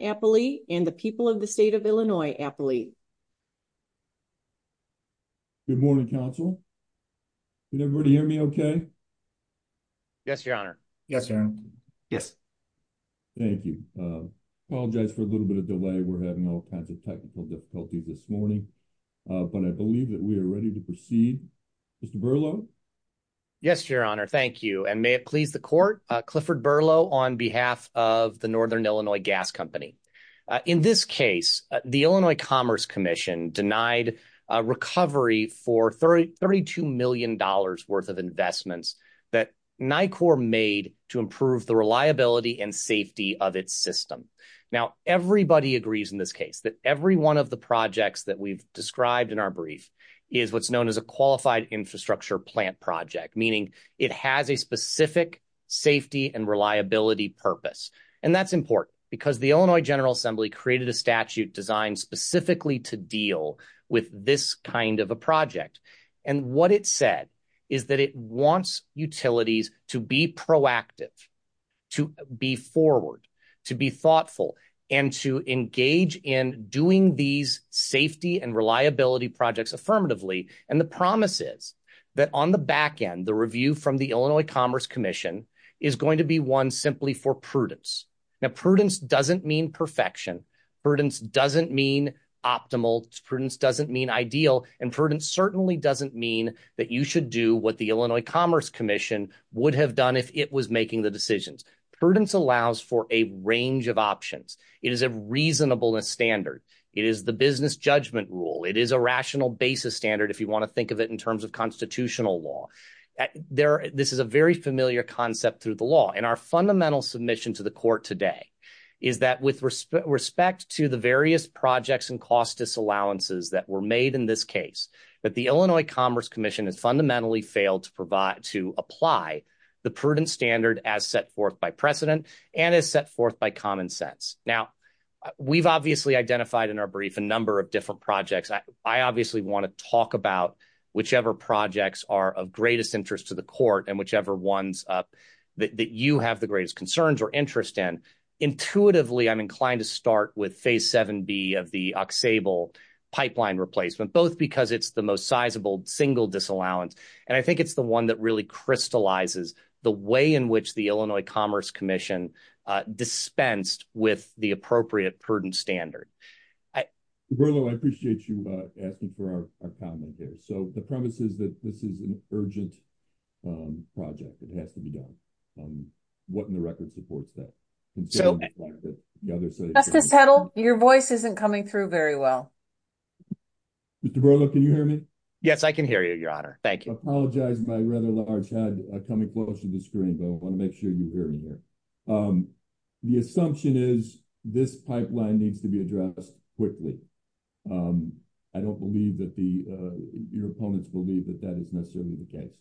Appley, and the people of the state of Illinois, Appley. Good morning, Council. Can everybody hear me okay? Yes, Your Honor. Yes, Your Honor. Yes. Thank you. Apologize for a little bit of delay. We're having all kinds of technical difficulties this morning. But I do want to start by saying thank you to all of the Yes, Your Honor. Thank you. And may it please the Court, Clifford Berlow on behalf of the Northern Illinois Gas Company. In this case, the Illinois Commerce Commission denied recovery for $32 million worth of investments that NICOR made to improve the reliability and safety of its system. Now, everybody agrees in this case that every one of the projects that we've described in our brief is what's known as a qualified infrastructure plant project, meaning it has a specific safety and reliability purpose. And that's important because the Illinois General Assembly created a statute designed specifically to deal with this kind of a project. And what it said is that it wants utilities to be proactive, to be forward, to be thoughtful, and to engage in doing these safety and reliability projects affirmatively. And the promise is that on the back end, the review from the Illinois Commerce Commission is going to be one simply for prudence. Now, prudence doesn't mean perfection. Prudence doesn't mean optimal. Prudence doesn't mean ideal. And prudence certainly doesn't mean that you should do what the Illinois Commerce Commission would have done if it was making the decisions. Prudence allows for a range of options. It is a reasonableness standard. It is the business judgment rule. It is a rational basis standard, if you want to think of it in terms of constitutional law. This is a very familiar concept through the law. And our fundamental submission to the court today is that with respect to the various projects and cost disallowances that were made in this case, that the Illinois Commerce Commission has fundamentally failed to apply the prudence standard as set forth by precedent and as set forth by common sense. Now, we've obviously identified in our brief a number of different projects. I obviously want to talk about whichever projects are of greatest interest to the court and whichever ones that you have the greatest concerns or interest in. Intuitively, I'm inclined to start with Phase 7B of the Auxable pipeline replacement, both because it's the most sizable single disallowance. And I think it's the one that really crystallizes the way in which the Illinois Commerce Commission dispensed with the appropriate prudence standard. Mr. Berlo, I appreciate you asking for our comment here. So the premise is that this is an urgent project. It has to be done. What in the record supports that? Justice Petal, your voice isn't coming through very well. Mr. Berlo, can you hear me? Yes, I can hear you, Your Honor. Thank you. I apologize, my rather large head coming close to the screen, but I want to make sure you hear me here. The assumption is this pipeline needs to be addressed quickly. I don't believe that your opponents believe that that is necessarily the case.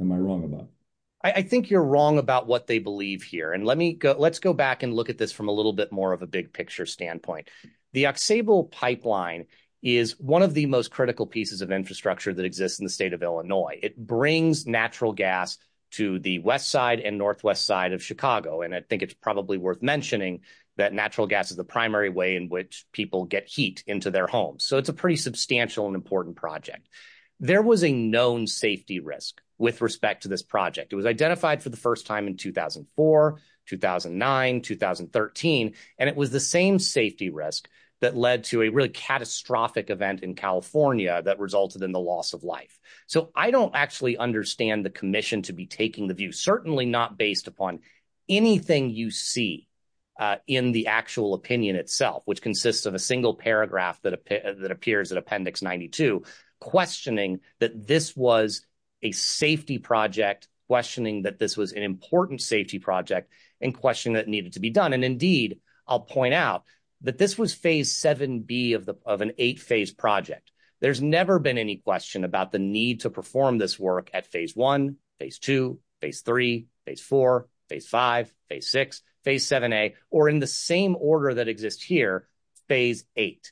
Am I wrong about that? I think you're wrong about what they believe here. And let's go back and look at this from a little bit more of a big picture standpoint. The Auxable pipeline is one of the most critical pieces of infrastructure that exists in the state of Illinois. It brings natural gas to the west side and northwest side of Chicago. And I think it's probably worth mentioning that natural gas is the primary way in which people get heat into their homes. So it's a pretty substantial and important project. There was a known safety risk with respect to this project. It was identified for the first time in 2004, 2009, 2013. And it was the same safety risk that led to a really catastrophic event in California that resulted in the loss of life. So I don't actually understand the commission to be taking the view, certainly not based upon anything you see in the actual opinion itself, which consists of a single paragraph that appears in Appendix 92, questioning that this was a safety project, questioning that this was an important safety project, and questioning that it needed to be done. And indeed, I'll point out that this was Phase 7B of an eight-phase project. There's never been any question about the need to perform this work at Phase 1, Phase 2, Phase 3, Phase 4, Phase 5, Phase 6, Phase 7A, or in the same order that exists here, Phase 8.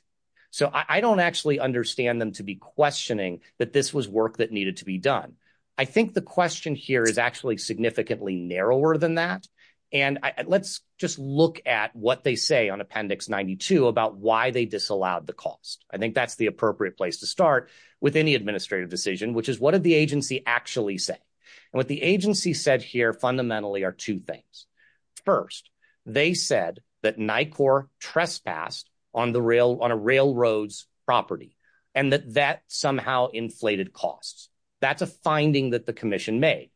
So I don't actually understand them to be questioning that this was work that needed to be done. I think the question here is actually significantly narrower than that. And let's just look at what they say on Appendix 92 about why they disallowed the cost. I think that's the appropriate place to start with any administrative decision, which is what did the agency actually say? And what the agency said here fundamentally are two things. First, they said that NICOR trespassed on a railroad's property and that that somehow inflated costs. That's a finding that the commission made.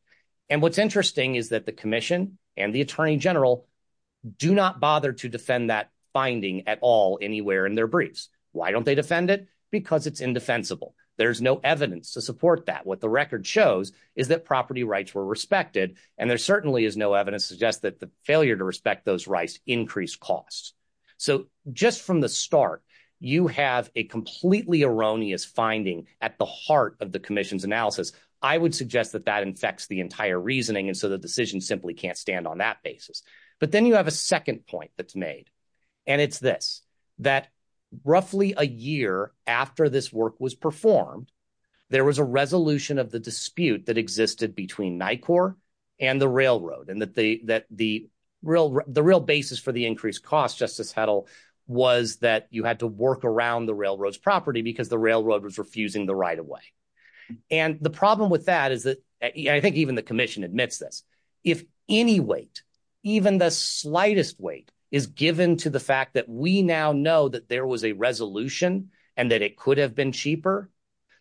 And what's interesting is that the commission and the attorney general do not bother to defend that finding at all anywhere in their briefs. Why don't they defend it? Because it's indefensible. There's no evidence to support that. What the record shows is that property rights were respected, and there certainly is no evidence to suggest that the failure to respect those rights increased costs. So just from the start, you have a completely erroneous finding at the heart of the commission's analysis. I would suggest that that infects the entire reasoning, and so the decision simply can't stand on that basis. But then you have a second point that's made, and it's this, that roughly a year after this work was performed, there was a resolution of the dispute that existed between NICOR and the railroad and that the real basis for the increased costs, Justice Hedl, was that you had to work around the railroad's property because the railroad was refusing the right of way. And the problem with that is that I think even the commission admits this. If any weight, even the slightest weight, is given to the fact that we now know that there was a resolution and that it could have been cheaper,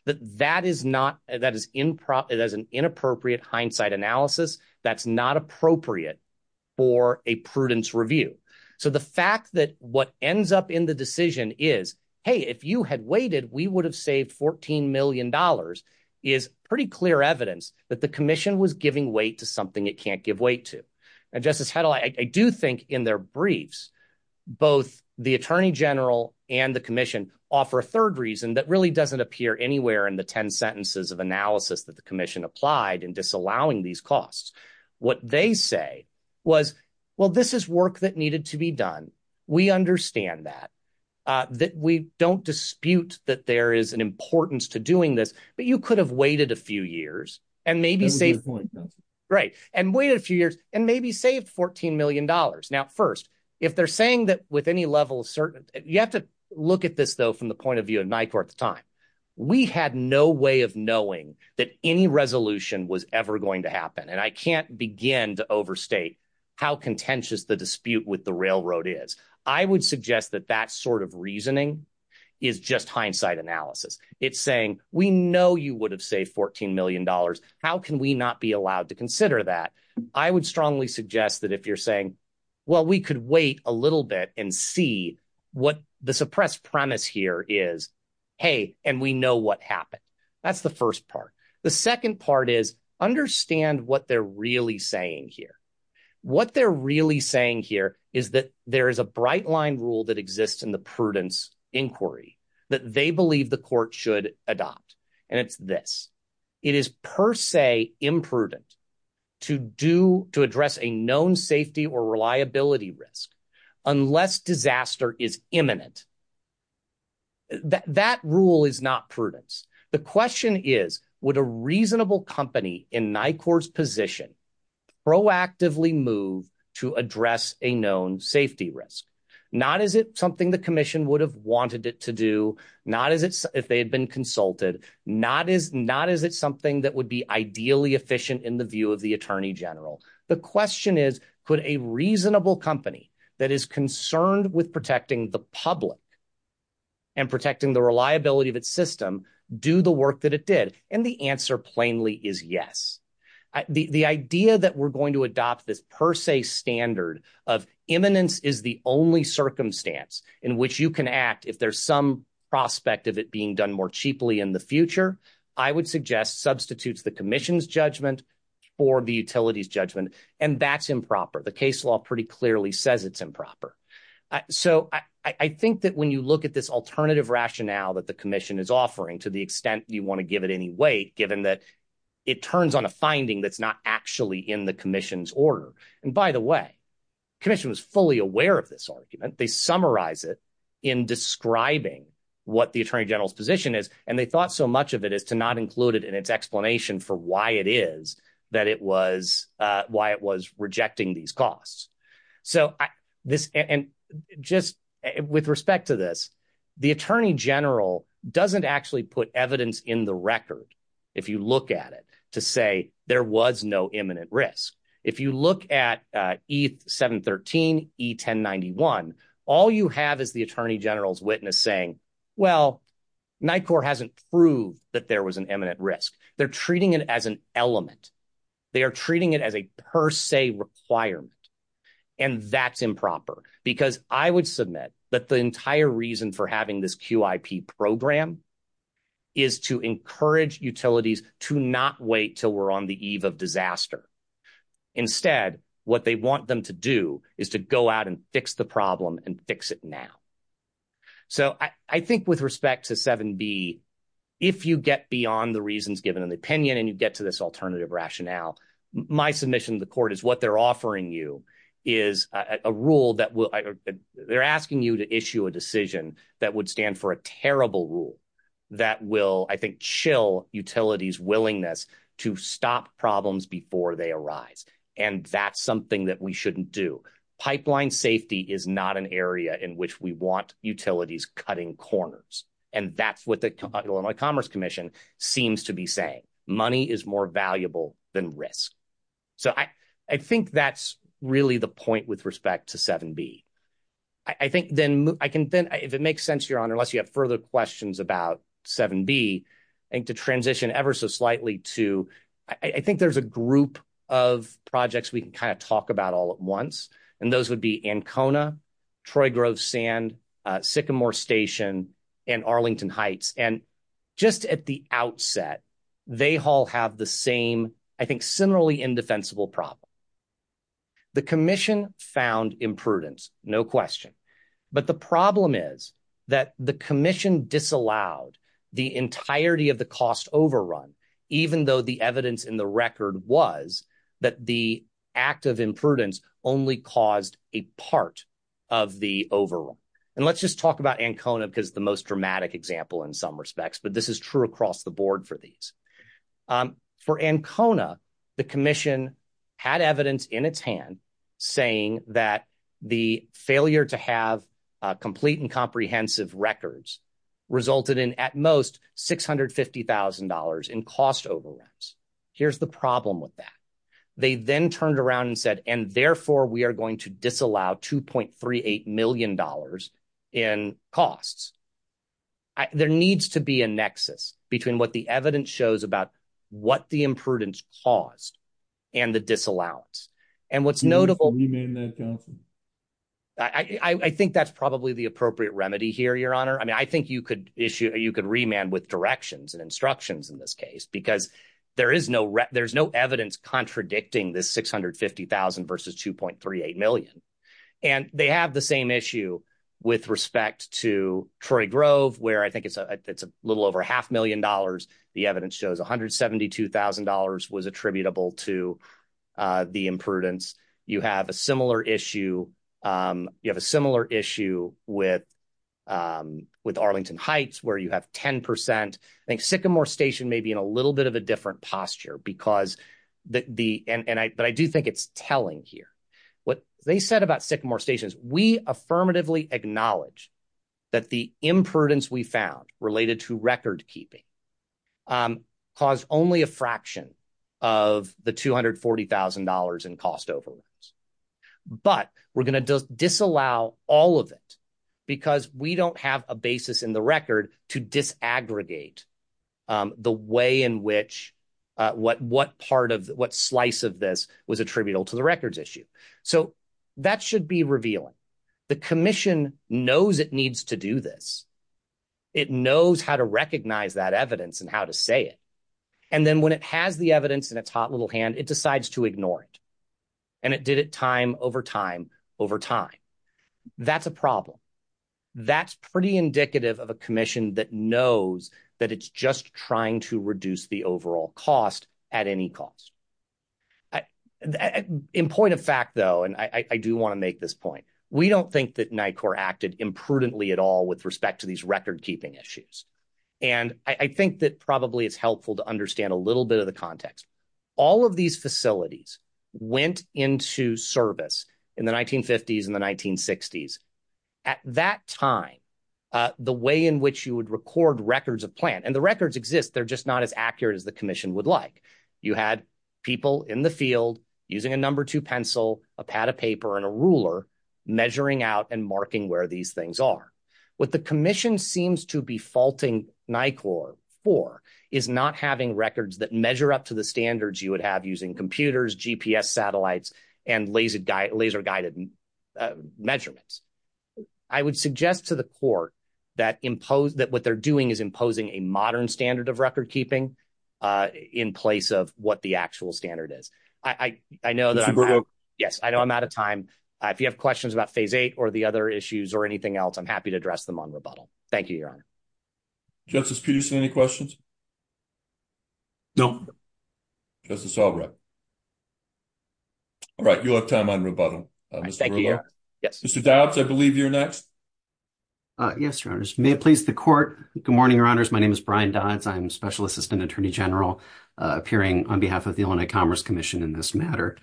that is an inappropriate hindsight analysis that's not appropriate for a prudence review. So the fact that what ends up in the decision is, hey, if you had waited, we would have saved $14 million, is pretty clear evidence that the commission was giving weight to something it can't give weight to. And Justice Hedl, I do think in their briefs, both the attorney general and the commission offer a third reason that really doesn't appear anywhere in the 10 sentences of analysis that the commission applied in disallowing these costs. What they say was, well, this is work that needed to be done. We understand that, that we don't dispute that there is an importance to doing this. But you could have waited a few years and maybe saved. Right. And waited a few years and maybe saved $14 million. Now, first, if they're saying that with any level of certainty, you have to look at this, though, from the point of view of NICOR at the time. We had no way of knowing that any resolution was ever going to happen. And I can't begin to overstate how contentious the dispute with the railroad is. I would suggest that that sort of reasoning is just hindsight analysis. It's saying we know you would have saved $14 million. How can we not be allowed to consider that? I would strongly suggest that if you're saying, well, we could wait a little bit and see what the suppressed premise here is. Hey, and we know what happened. That's the first part. The second part is understand what they're really saying here. What they're really saying here is that there is a bright line rule that exists in the prudence inquiry that they believe the court should adopt. And it's this. It is per se imprudent to address a known safety or reliability risk unless disaster is imminent. That rule is not prudence. The question is, would a reasonable company in NICOR's position proactively move to address a known safety risk? Not is it something the commission would have wanted it to do, not as if they had been consulted, not as not as it's something that would be ideally efficient in the view of the attorney general. The question is, could a reasonable company that is concerned with protecting the public. And protecting the reliability of its system, do the work that it did, and the answer plainly is yes. The idea that we're going to adopt this per se standard of imminence is the only circumstance in which you can act if there's some prospect of it being done more cheaply in the future. I would suggest substitutes the commission's judgment for the utilities judgment. And that's improper. The case law pretty clearly says it's improper. So I think that when you look at this alternative rationale that the commission is offering to the extent you want to give it any weight, given that it turns on a finding that's not actually in the commission's order. And by the way, commission was fully aware of this argument. They summarize it in describing what the attorney general's position is. And they thought so much of it as to not include it in its explanation for why it is that it was why it was rejecting these costs. With respect to this, the attorney general doesn't actually put evidence in the record, if you look at it, to say there was no imminent risk. If you look at E-713, E-1091, all you have is the attorney general's witness saying, well, NICOR hasn't proved that there was an imminent risk. They're treating it as an element. They are treating it as a per se requirement. And that's improper, because I would submit that the entire reason for having this QIP program is to encourage utilities to not wait till we're on the eve of disaster. Instead, what they want them to do is to go out and fix the problem and fix it now. So I think with respect to 7B, if you get beyond the reasons given in the opinion and you get to this alternative rationale, my submission to the court is what they're offering you is a rule that they're asking you to issue a decision that would stand for a terrible rule that will, I think, chill utilities' willingness to stop problems before they arise. And that's something that we shouldn't do. Pipeline safety is not an area in which we want utilities cutting corners. And that's what the Illinois Commerce Commission seems to be saying. Money is more valuable than risk. So I think that's really the point with respect to 7B. If it makes sense, Your Honor, unless you have further questions about 7B, I think to transition ever so slightly to, I think there's a group of projects we can kind of talk about all at once. And those would be Ancona, Troy Grove Sand, Sycamore Station, and Arlington Heights. And just at the outset, they all have the same, I think, similarly indefensible problem. The commission found imprudence, no question. But the problem is that the commission disallowed the entirety of the cost overrun, even though the evidence in the record was that the act of imprudence only caused a part of the overrun. And let's just talk about Ancona because the most dramatic example in some respects, but this is true across the board for these. For Ancona, the commission had evidence in its hand saying that the failure to have complete and comprehensive records resulted in at most $650,000 in cost overruns. Here's the problem with that. They then turned around and said, and therefore we are going to disallow $2.38 million in costs. There needs to be a nexus between what the evidence shows about what the imprudence caused and the disallowance. And what's notable. I think that's probably the appropriate remedy here, Your Honor. I mean, I think you could issue, you could remand with directions and instructions in this case, because there is no, there's no evidence contradicting this $650,000 versus $2.38 million. And they have the same issue with respect to Troy Grove, where I think it's a little over a half million dollars. The evidence shows $172,000 was attributable to the imprudence. You have a similar issue, you have a similar issue with Arlington Heights, where you have 10%. I think Sycamore Station may be in a little bit of a different posture because the, and I, but I do think it's telling here. What they said about Sycamore Station is we affirmatively acknowledge that the imprudence we found related to record keeping caused only a fraction of the $240,000 in cost overruns. But we're going to disallow all of it because we don't have a basis in the record to disaggregate the way in which, what part of, what slice of this was attributable to the records issue. So, that should be revealing. The commission knows it needs to do this. It knows how to recognize that evidence and how to say it. And then when it has the evidence in its hot little hand, it decides to ignore it. And it did it time over time over time. That's a problem. That's pretty indicative of a commission that knows that it's just trying to reduce the overall cost at any cost. In point of fact, though, and I do want to make this point. We don't think that NICOR acted imprudently at all with respect to these record keeping issues. And I think that probably it's helpful to understand a little bit of the context. All of these facilities went into service in the 1950s and the 1960s. At that time, the way in which you would record records of plant, and the records exist, they're just not as accurate as the commission would like. You had people in the field using a number two pencil, a pad of paper, and a ruler measuring out and marking where these things are. What the commission seems to be faulting NICOR for is not having records that measure up to the standards you would have using computers, GPS satellites, and laser guided measurements. I would suggest to the court that what they're doing is imposing a modern standard of record keeping in place of what the actual standard is. Yes, I know I'm out of time. If you have questions about phase eight or the other issues or anything else, I'm happy to address them on rebuttal. Thank you, Your Honor. Justice Peterson, any questions? No. Justice Albright. All right, you'll have time on rebuttal. Thank you, Your Honor. Mr. Dobbs, I believe you're next. Yes, Your Honors. May it please the court. Good morning, Your Honors. My name is Brian Dobbs. I'm Special Assistant Attorney General appearing on behalf of the Illinois Commerce Commission in this matter.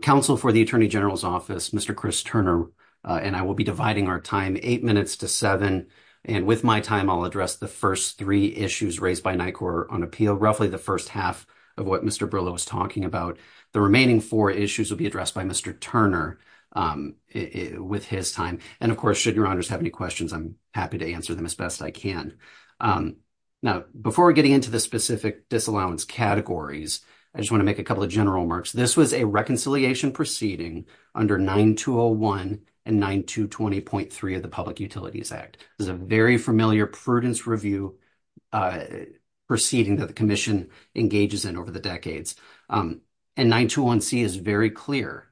Counsel for the Attorney General's Office, Mr. Chris Turner, and I will be dividing our time eight minutes to seven. And with my time, I'll address the first three issues raised by NICOR on appeal, roughly the first half of what Mr. Brillo was talking about. The remaining four issues will be addressed by Mr. Turner with his time. And, of course, should Your Honors have any questions, I'm happy to answer them as best I can. Now, before getting into the specific disallowance categories, I just want to make a couple of general remarks. This was a reconciliation proceeding under 9201 and 9220.3 of the Public Utilities Act. This is a very familiar prudence review proceeding that the Commission engages in over the decades. And 921C is very clear.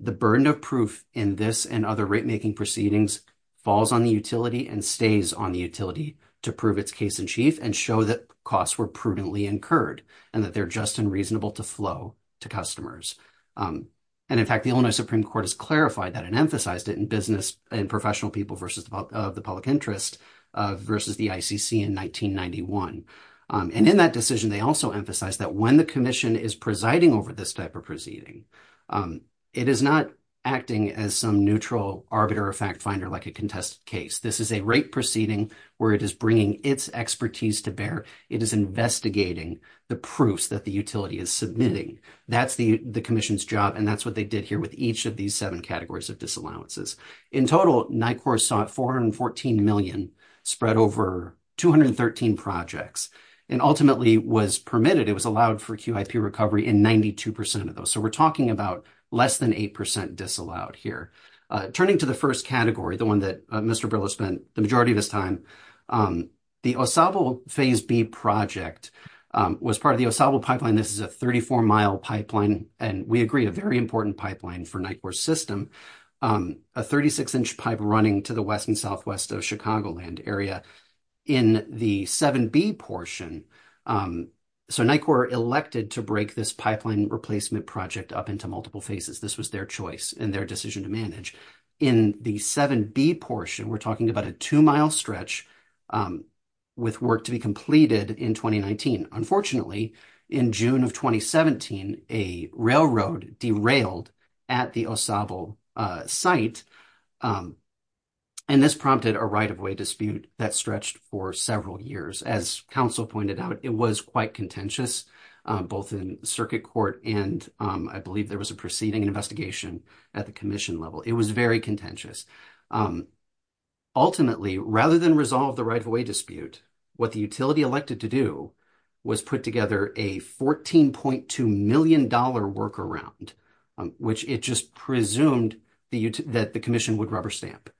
The burden of proof in this and other rate-making proceedings falls on the utility and stays on the utility to prove its case in chief and show that costs were prudently incurred and that they're just and reasonable to flow to customers. And, in fact, the Illinois Supreme Court has clarified that and emphasized it in business and professional people versus the public interest versus the ICC in 1991. And in that decision, they also emphasized that when the Commission is presiding over this type of proceeding, it is not acting as some neutral arbiter or fact finder like a contested case. This is a rate proceeding where it is bringing its expertise to bear. It is investigating the proofs that the utility is submitting. That's the Commission's job, and that's what they did here with each of these seven categories of disallowances. In total, NICOR sought 414 million, spread over 213 projects, and ultimately was permitted. It was allowed for QIP recovery in 92% of those. So we're talking about less than 8% disallowed here. Turning to the first category, the one that Mr. Brill has spent the majority of his time, the OSABO Phase B project was part of the OSABO pipeline. This is a 34-mile pipeline, and we agree, a very important pipeline for NICOR's system. A 36-inch pipe running to the west and southwest of Chicagoland area. In the 7B portion, so NICOR elected to break this pipeline replacement project up into multiple phases. This was their choice and their decision to manage. In the 7B portion, we're talking about a 2-mile stretch with work to be completed in 2019. Unfortunately, in June of 2017, a railroad derailed at the OSABO site, and this prompted a right-of-way dispute that stretched for several years. As Council pointed out, it was quite contentious, both in Circuit Court and I believe there was a preceding investigation at the Commission level. It was very contentious. Ultimately, rather than resolve the right-of-way dispute, what the utility elected to do was put together a $14.2 million workaround, which it just presumed that the Commission would rubber stamp.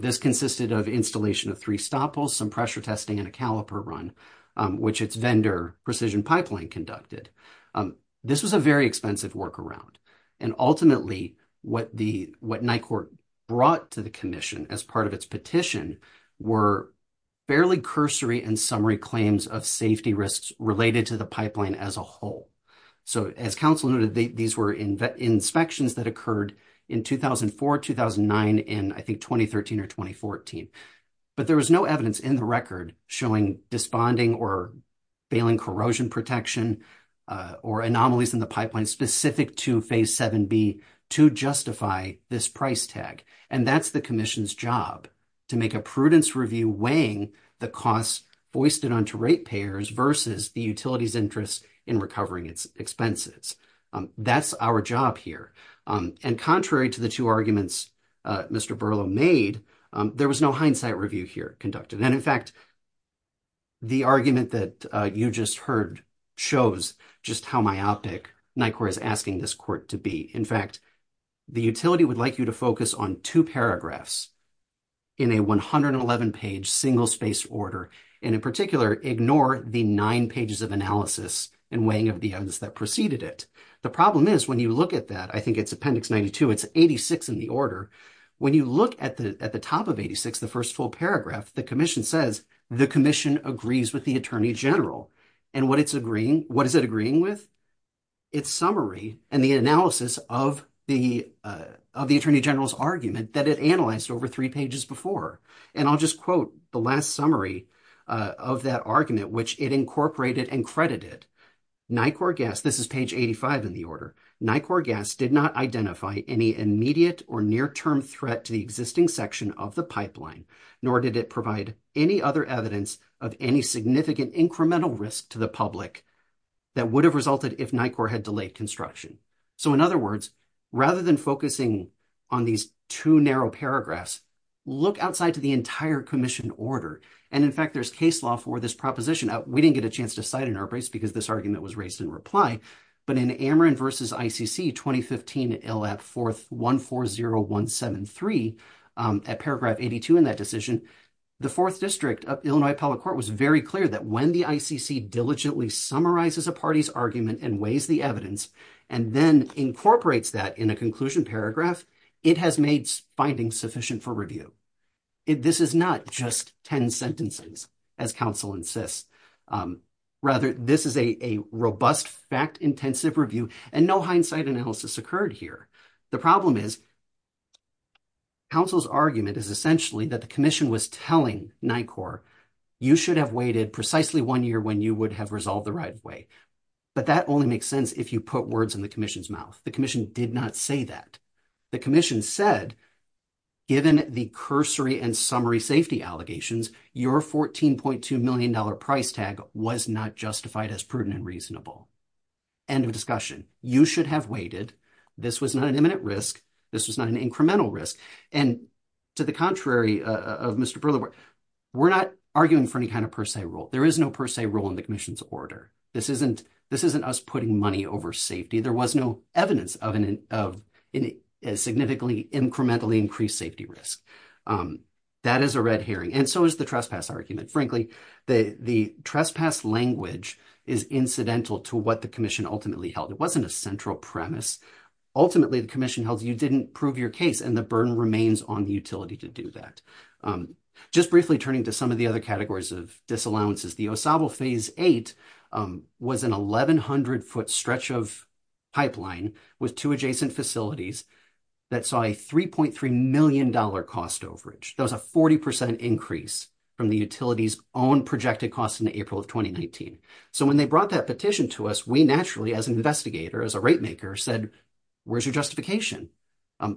This consisted of installation of three stopples, some pressure testing, and a caliper run, which its vendor, Precision Pipeline, conducted. This was a very expensive workaround. Ultimately, what NICOR brought to the Commission as part of its petition were barely cursory and summary claims of safety risks related to the pipeline as a whole. As Council noted, these were inspections that occurred in 2004, 2009, and I think 2013 or 2014. But there was no evidence in the record showing desponding or bailing corrosion protection or anomalies in the pipeline specific to Phase 7b to justify this price tag. And that's the Commission's job, to make a prudence review weighing the costs foisted onto ratepayers versus the utility's interest in recovering its expenses. That's our job here. And contrary to the two arguments Mr. Berlow made, there was no hindsight review here conducted. And in fact, the argument that you just heard shows just how myopic NICOR is asking this court to be. In fact, the utility would like you to focus on two paragraphs in a 111-page single-space order, and in particular, ignore the nine pages of analysis and weighing of the evidence that preceded it. The problem is, when you look at that, I think it's Appendix 92, it's 86 in the order. When you look at the top of 86, the first full paragraph, the Commission says, the Commission agrees with the Attorney General. And what is it agreeing with? Its summary and the analysis of the Attorney General's argument that it analyzed over three pages before. And I'll just quote the last summary of that argument, which it incorporated and credited. NICOR gas, this is page 85 in the order, NICOR gas did not identify any immediate or near-term threat to the existing section of the pipeline, nor did it provide any other evidence of any significant incremental risk to the public that would have resulted if NICOR had delayed construction. So in other words, rather than focusing on these two narrow paragraphs, look outside to the entire Commission order. And in fact, there's case law for this proposition. We didn't get a chance to cite it in our place because this argument was raised in reply. But in Ameren v. ICC, 2015, ill at 4th 140173, at paragraph 82 in that decision, the 4th District of Illinois Appellate Court was very clear that when the ICC diligently summarizes a party's argument and weighs the evidence, and then incorporates that in a conclusion paragraph, it has made findings sufficient for review. This is not just 10 sentences, as counsel insists. Rather, this is a robust, fact-intensive review, and no hindsight analysis occurred here. The problem is, counsel's argument is essentially that the Commission was telling NICOR, you should have waited precisely one year when you would have resolved the right way. But that only makes sense if you put words in the Commission's mouth. The Commission did not say that. The Commission said, given the cursory and summary safety allegations, your $14.2 million price tag was not justified as prudent and reasonable. End of discussion. You should have waited. This was not an imminent risk. This was not an incremental risk. And to the contrary of Mr. Briller, we're not arguing for any kind of per se rule. There is no per se rule in the Commission's order. This isn't us putting money over safety. There was no evidence of a significantly incrementally increased safety risk. That is a red herring, and so is the trespass argument. Frankly, the trespass language is incidental to what the Commission ultimately held. It wasn't a central premise. Ultimately, the Commission held you didn't prove your case, and the burden remains on the utility to do that. Just briefly turning to some of the other categories of disallowances. The OSABO Phase 8 was an 1,100-foot stretch of pipeline with two adjacent facilities that saw a $3.3 million cost overage. That was a 40% increase from the utility's own projected cost in April of 2019. So when they brought that petition to us, we naturally, as an investigator, as a rate maker, said, where's your justification?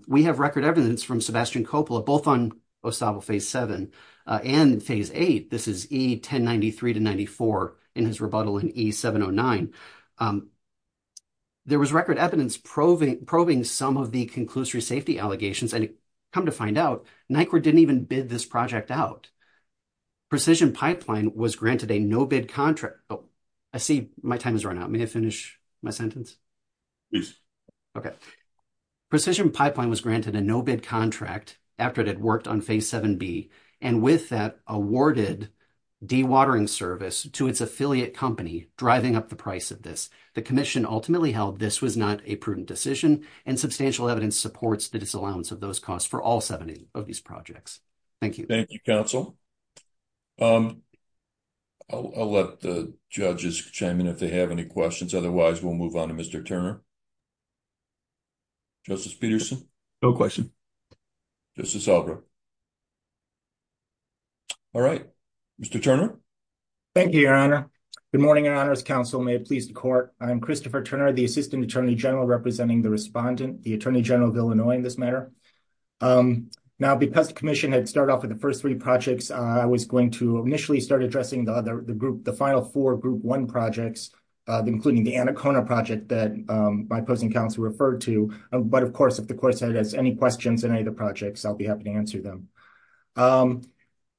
We have record evidence from Sebastian Coppola, both on OSABO Phase 7 and Phase 8. This is E1093-94 in his rebuttal in E709. There was record evidence probing some of the conclusory safety allegations, and come to find out, NYCWRD didn't even bid this project out. Precision Pipeline was granted a no-bid contract. I see my time has run out. May I finish my sentence? Please. Okay. Precision Pipeline was granted a no-bid contract after it had worked on Phase 7B, and with that awarded dewatering service to its affiliate company, driving up the price of this. The commission ultimately held this was not a prudent decision, and substantial evidence supports the disallowance of those costs for all 70 of these projects. Thank you. Thank you, counsel. I'll let the judges chime in if they have any questions. Otherwise, we'll move on to Mr. Turner. Justice Peterson? No question. Justice Albra? All right. Mr. Turner? Thank you, Your Honor. Good morning, Your Honor's counsel. May it please the court. I am Christopher Turner, the Assistant Attorney General representing the respondent, the Attorney General of Illinois in this matter. Now, because the commission had started off with the first three projects, I was going to initially start addressing the final four Group 1 projects, including the Anacona project that my opposing counsel referred to. But, of course, if the court has any questions on any of the projects, I'll be happy to answer them.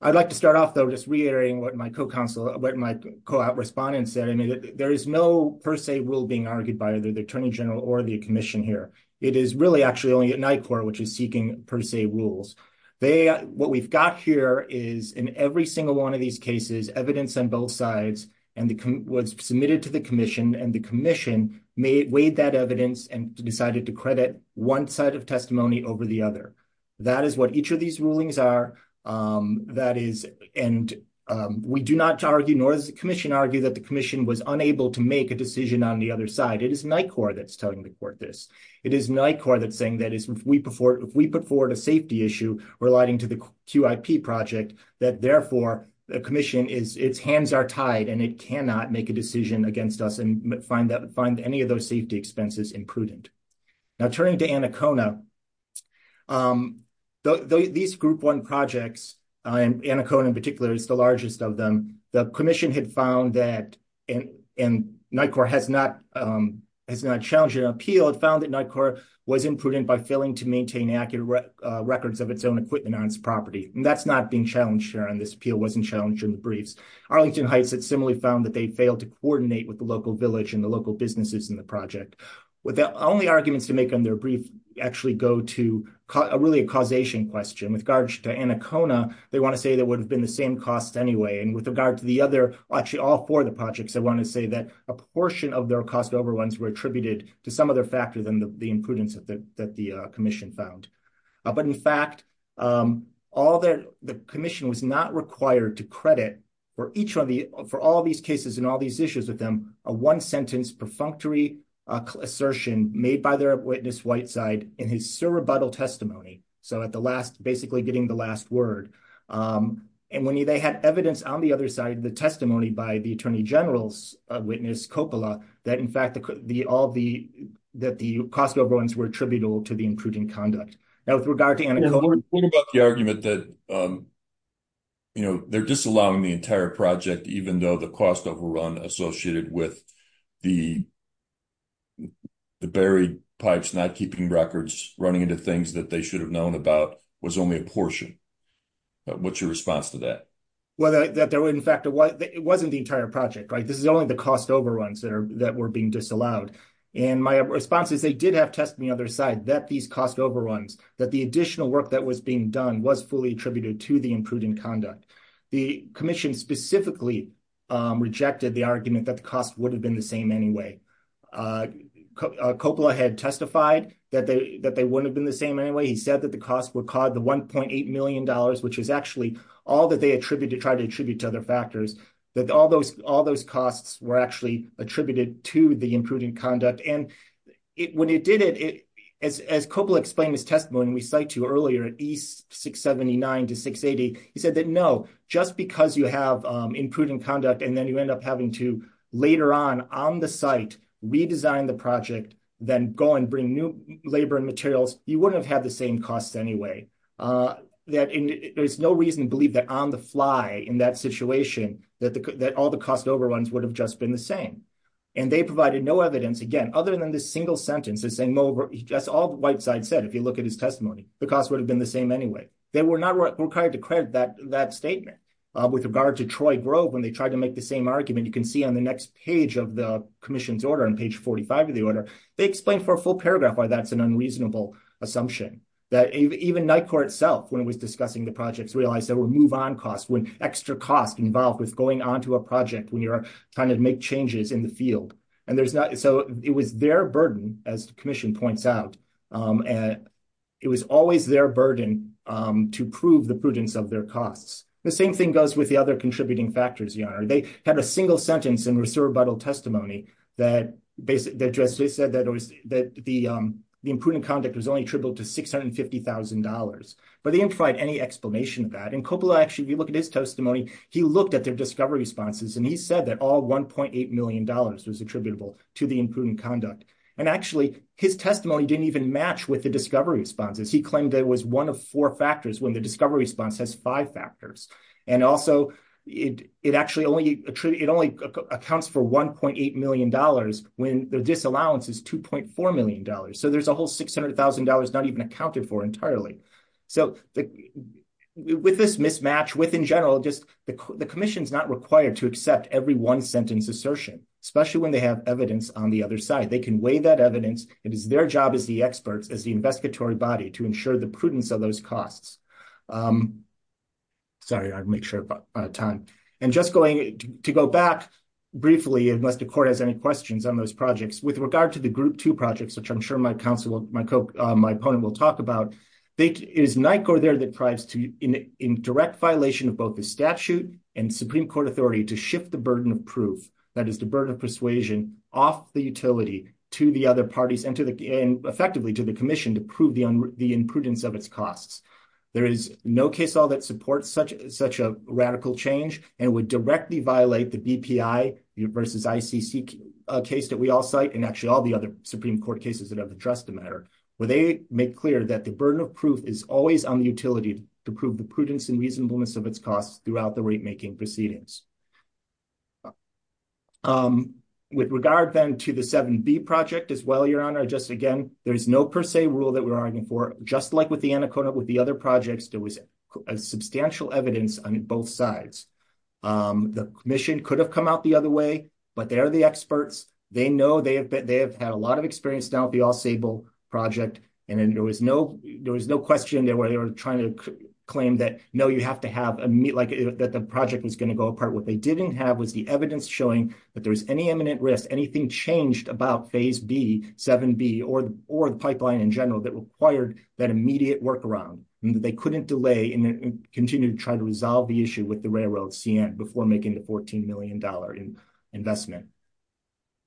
I'd like to start off, though, just reiterating what my co-respondent said. I mean, there is no per se rule being argued by either the Attorney General or the commission here. It is really actually only at NICOR which is seeking per se rules. What we've got here is, in every single one of these cases, evidence on both sides was submitted to the commission, and the commission weighed that evidence and decided to credit one side of testimony over the other. That is what each of these rulings are. And we do not argue, nor does the commission argue, that the commission was unable to make a decision on the other side. It is NICOR that's telling the court this. It is NICOR that's saying that if we put forward a safety issue relating to the QIP project, that, therefore, the commission, its hands are tied, and it cannot make a decision against us and find any of those safety expenses imprudent. Now, turning to Anacona, these Group 1 projects, and Anacona in particular is the largest of them, the commission had found that, and NICOR has not challenged an appeal, it found that NICOR was imprudent by failing to maintain accurate records of its own equipment on its property. That's not being challenged here, and this appeal wasn't challenged in the briefs. Arlington Heights had similarly found that they failed to coordinate with the local village and the local businesses in the project. The only arguments to make in their brief actually go to really a causation question. With regards to Anacona, they want to say that it would have been the same cost anyway. And with regard to the other, actually all four of the projects, they want to say that a portion of their cost overruns were attributed to some other factor than the imprudence that the commission found. But, in fact, the commission was not required to credit, for all these cases and all these issues with them, a one-sentence perfunctory assertion made by their witness Whiteside in his surrebuttal testimony, so basically getting the last word. And when they had evidence on the other side, the testimony by the Attorney General's witness, Coppola, that, in fact, all of the cost overruns were attributable to the imprudent conduct. Now, with regard to Anacona— The point about the argument that they're disallowing the entire project, even though the cost overrun associated with the buried pipes not keeping records, running into things that they should have known about, was only a portion. What's your response to that? Well, in fact, it wasn't the entire project, right? This is only the cost overruns that were being disallowed. And my response is they did have testimony on their side that these cost overruns, that the additional work that was being done was fully attributed to the imprudent conduct. The commission specifically rejected the argument that the cost would have been the same anyway. Coppola had testified that they wouldn't have been the same anyway. He said that the cost would cause the $1.8 million, which is actually all that they tried to attribute to other factors, that all those costs were actually attributed to the imprudent conduct. And when he did it, as Coppola explained his testimony we cited to earlier at E679-680, he said that no, just because you have imprudent conduct and then you end up having to later on, on the site, redesign the project, then go and bring new labor and materials, you wouldn't have had the same costs anyway. There's no reason to believe that on the fly in that situation, that all the cost overruns would have just been the same. And they provided no evidence, again, other than this single sentence, as all the white side said, if you look at his testimony, the cost would have been the same anyway. They were not required to credit that statement. With regard to Troy Grove, when they tried to make the same argument, you can see on the next page of the commission's order, on page 45 of the order, they explained for a full paragraph why that's an unreasonable assumption. That even NICOR itself, when it was discussing the projects, realized there were move-on costs, extra costs involved with going on to a project when you're trying to make changes in the field. And so it was their burden, as the commission points out, and it was always their burden to prove the prudence of their costs. The same thing goes with the other contributing factors, Your Honor. They had a single sentence in reservable testimony that just said that the imprudent conduct was only attributable to $650,000. But they didn't provide any explanation of that. And Coppola, actually, if you look at his testimony, he looked at their discovery responses, and he said that all $1.8 million was attributable to the imprudent conduct. And actually, his testimony didn't even match with the discovery responses. He claimed it was one of four factors when the discovery response has five factors. And also, it actually only accounts for $1.8 million when the disallowance is $2.4 million. So there's a whole $600,000 not even accounted for entirely. So with this mismatch, with in general, the commission is not required to accept every one-sentence assertion, especially when they have evidence on the other side. They can weigh that evidence. It is their job as the experts, as the investigatory body, to ensure the prudence of those costs. Sorry, I'll make sure of time. And just to go back briefly, unless the court has any questions on those projects, with regard to the Group 2 projects, which I'm sure my opponent will talk about, it is NICOR there that thrives in direct violation of both the statute and Supreme Court authority to shift the burden of proof, that is the burden of persuasion, off the utility to the other parties and effectively to the commission to prove the imprudence of its costs. There is no case law that supports such a radical change and would directly violate the BPI versus ICC case that we all cite, and actually all the other Supreme Court cases that have addressed the matter, where they make clear that the burden of proof is always on the utility to prove the prudence and reasonableness of its costs throughout the rate-making proceedings. With regard, then, to the 7B project as well, Your Honor, just again, there's no per se rule that we're arguing for. Just like with the Anaconda, with the other projects, there was substantial evidence on both sides. The commission could have come out the other way, but they're the experts. They know they have had a lot of experience now with the All-Sable project, and there was no question there where they were trying to claim that, no, you have to have a, like, that the project was going to go apart. What they didn't have was the evidence showing that there was any imminent risk, anything changed about Phase B, 7B, or the pipeline in general that required that immediate workaround, and that they couldn't delay and continue to try to resolve the issue with the railroad before making the $14 million investment.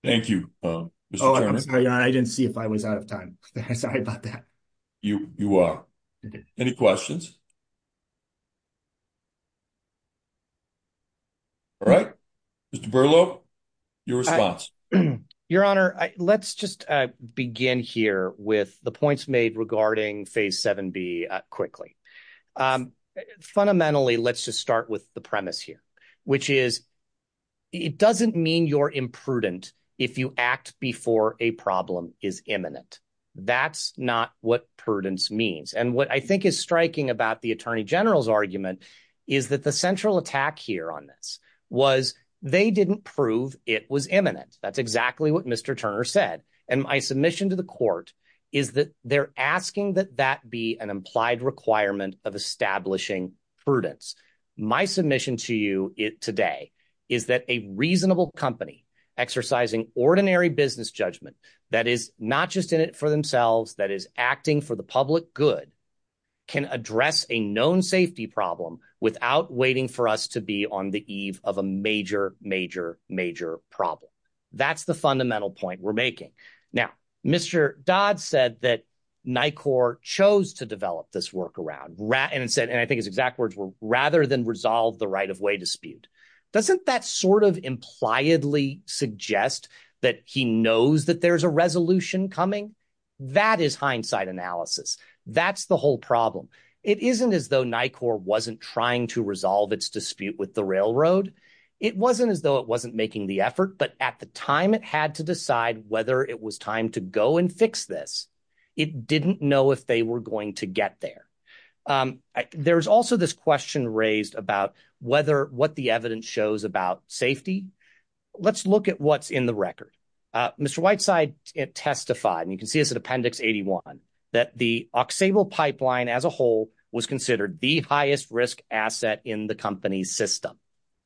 Thank you, Mr. Chairman. I didn't see if I was out of time. Sorry about that. You are. Any questions? All right. Mr. Berlow, your response. Your Honor, let's just begin here with the points made regarding Phase 7B quickly. Fundamentally, let's just start with the premise here, which is it doesn't mean you're imprudent if you act before a problem is imminent. That's not what prudence means. And what I think is striking about the Attorney General's argument is that the central attack here on this was they didn't prove it was imminent. That's exactly what Mr. Turner said. And my submission to the court is that they're asking that that be an implied requirement of establishing prudence. My submission to you today is that a reasonable company exercising ordinary business judgment that is not just in it for themselves, that is acting for the public good, can address a known safety problem without waiting for us to be on the eve of a major, major, major problem. That's the fundamental point we're making. Now, Mr. Dodd said that NICOR chose to develop this workaround and said, and I think his exact words were, rather than resolve the right-of-way dispute. Doesn't that sort of impliedly suggest that he knows that there's a resolution coming? That is hindsight analysis. That's the whole problem. It isn't as though NICOR wasn't trying to resolve its dispute with the railroad. It wasn't as though it wasn't making the effort. But at the time, it had to decide whether it was time to go and fix this. It didn't know if they were going to get there. There is also this question raised about whether what the evidence shows about safety. Let's look at what's in the record. Mr. Whiteside testified, and you can see this in Appendix 81, that the Auxable pipeline as a whole was considered the highest-risk asset in the company's system.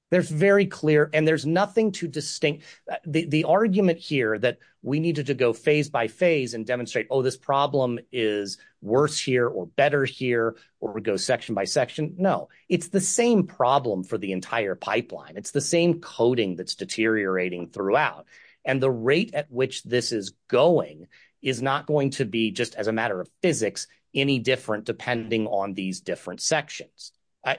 There's very clear, and there's nothing too distinct. The argument here that we needed to go phase by phase and demonstrate, oh, this problem is worse here or better here or go section by section, no. It's the same problem for the entire pipeline. It's the same coding that's deteriorating throughout. And the rate at which this is going is not going to be, just as a matter of physics, any different depending on these different sections.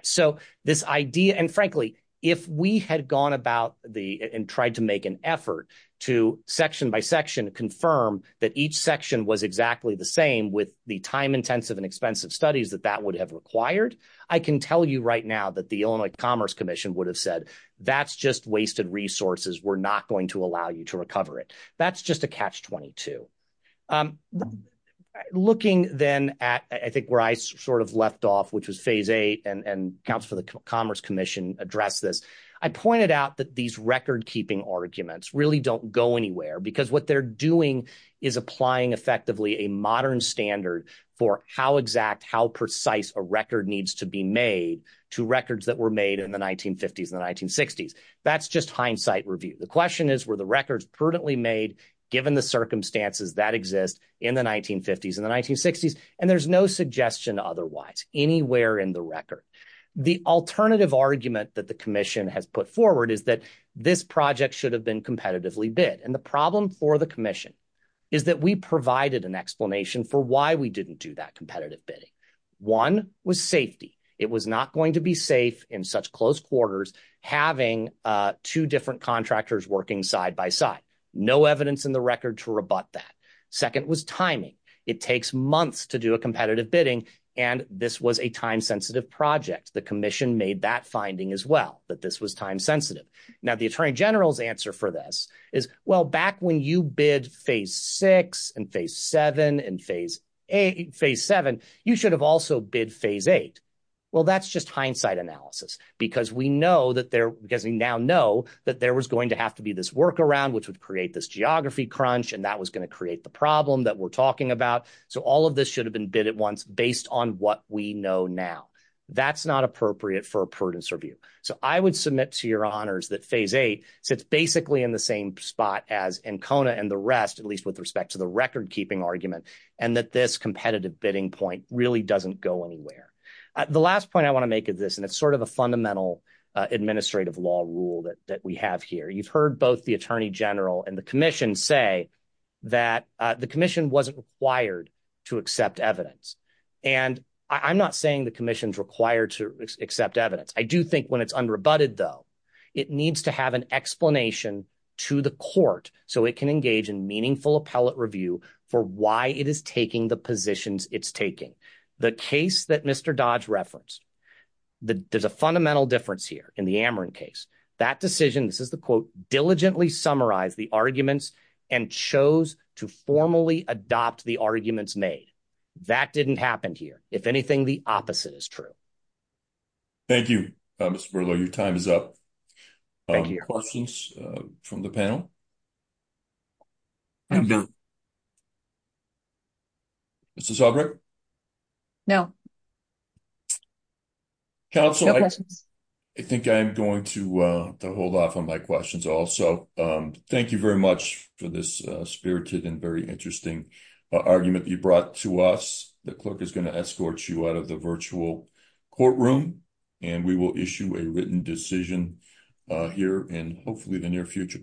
So this idea – and frankly, if we had gone about the – and tried to make an effort to section by section confirm that each section was exactly the same with the time-intensive and expensive studies that that would have required, I can tell you right now that the Illinois Commerce Commission would have said, that's just wasted resources. We're not going to allow you to recover it. That's just a catch-22. Looking then at I think where I sort of left off, which was phase eight, and accounts for the Commerce Commission addressed this, I pointed out that these record-keeping arguments really don't go anywhere because what they're doing is applying effectively a modern standard for how exact, how precise a record needs to be made to records that were made in the 1950s and the 1960s. That's just hindsight review. The question is, were the records prudently made given the circumstances that exist in the 1950s and the 1960s? And there's no suggestion otherwise anywhere in the record. The alternative argument that the commission has put forward is that this project should have been competitively bid. And the problem for the commission is that we provided an explanation for why we didn't do that competitive bidding. One was safety. It was not going to be safe in such close quarters having two different contractors working side by side. No evidence in the record to rebut that. Second was timing. It takes months to do a competitive bidding, and this was a time-sensitive project. The commission made that finding as well, that this was time-sensitive. Now, the attorney general's answer for this is, well, back when you bid phase six and phase seven and phase seven, you should have also bid phase eight. Well, that's just hindsight analysis because we now know that there was going to have to be this workaround, which would create this geography crunch, and that was going to create the problem that we're talking about. So all of this should have been bid at once based on what we know now. That's not appropriate for a prudence review. So I would submit to your honors that phase eight sits basically in the same spot as Encona and the rest, at least with respect to the record-keeping argument, and that this competitive bidding point really doesn't go anywhere. The last point I want to make is this, and it's sort of a fundamental administrative law rule that we have here. You've heard both the attorney general and the commission say that the commission wasn't required to accept evidence. And I'm not saying the commission's required to accept evidence. I do think when it's unrebutted, though, it needs to have an explanation to the court so it can engage in meaningful appellate review for why it is taking the positions it's taking. The case that Mr. Dodge referenced, there's a fundamental difference here in the Ameren case. That decision, this is the quote, diligently summarized the arguments and chose to formally adopt the arguments made. That didn't happen here. If anything, the opposite is true. Thank you, Mr. Berlo. Your time is up. Questions from the panel? I'm done. Mrs. Albrecht? No. No questions. I think I'm going to hold off on my questions also. Thank you very much for this spirited and very interesting argument you brought to us. The clerk is going to escort you out of the virtual courtroom, and we will issue a written decision here in hopefully the near future.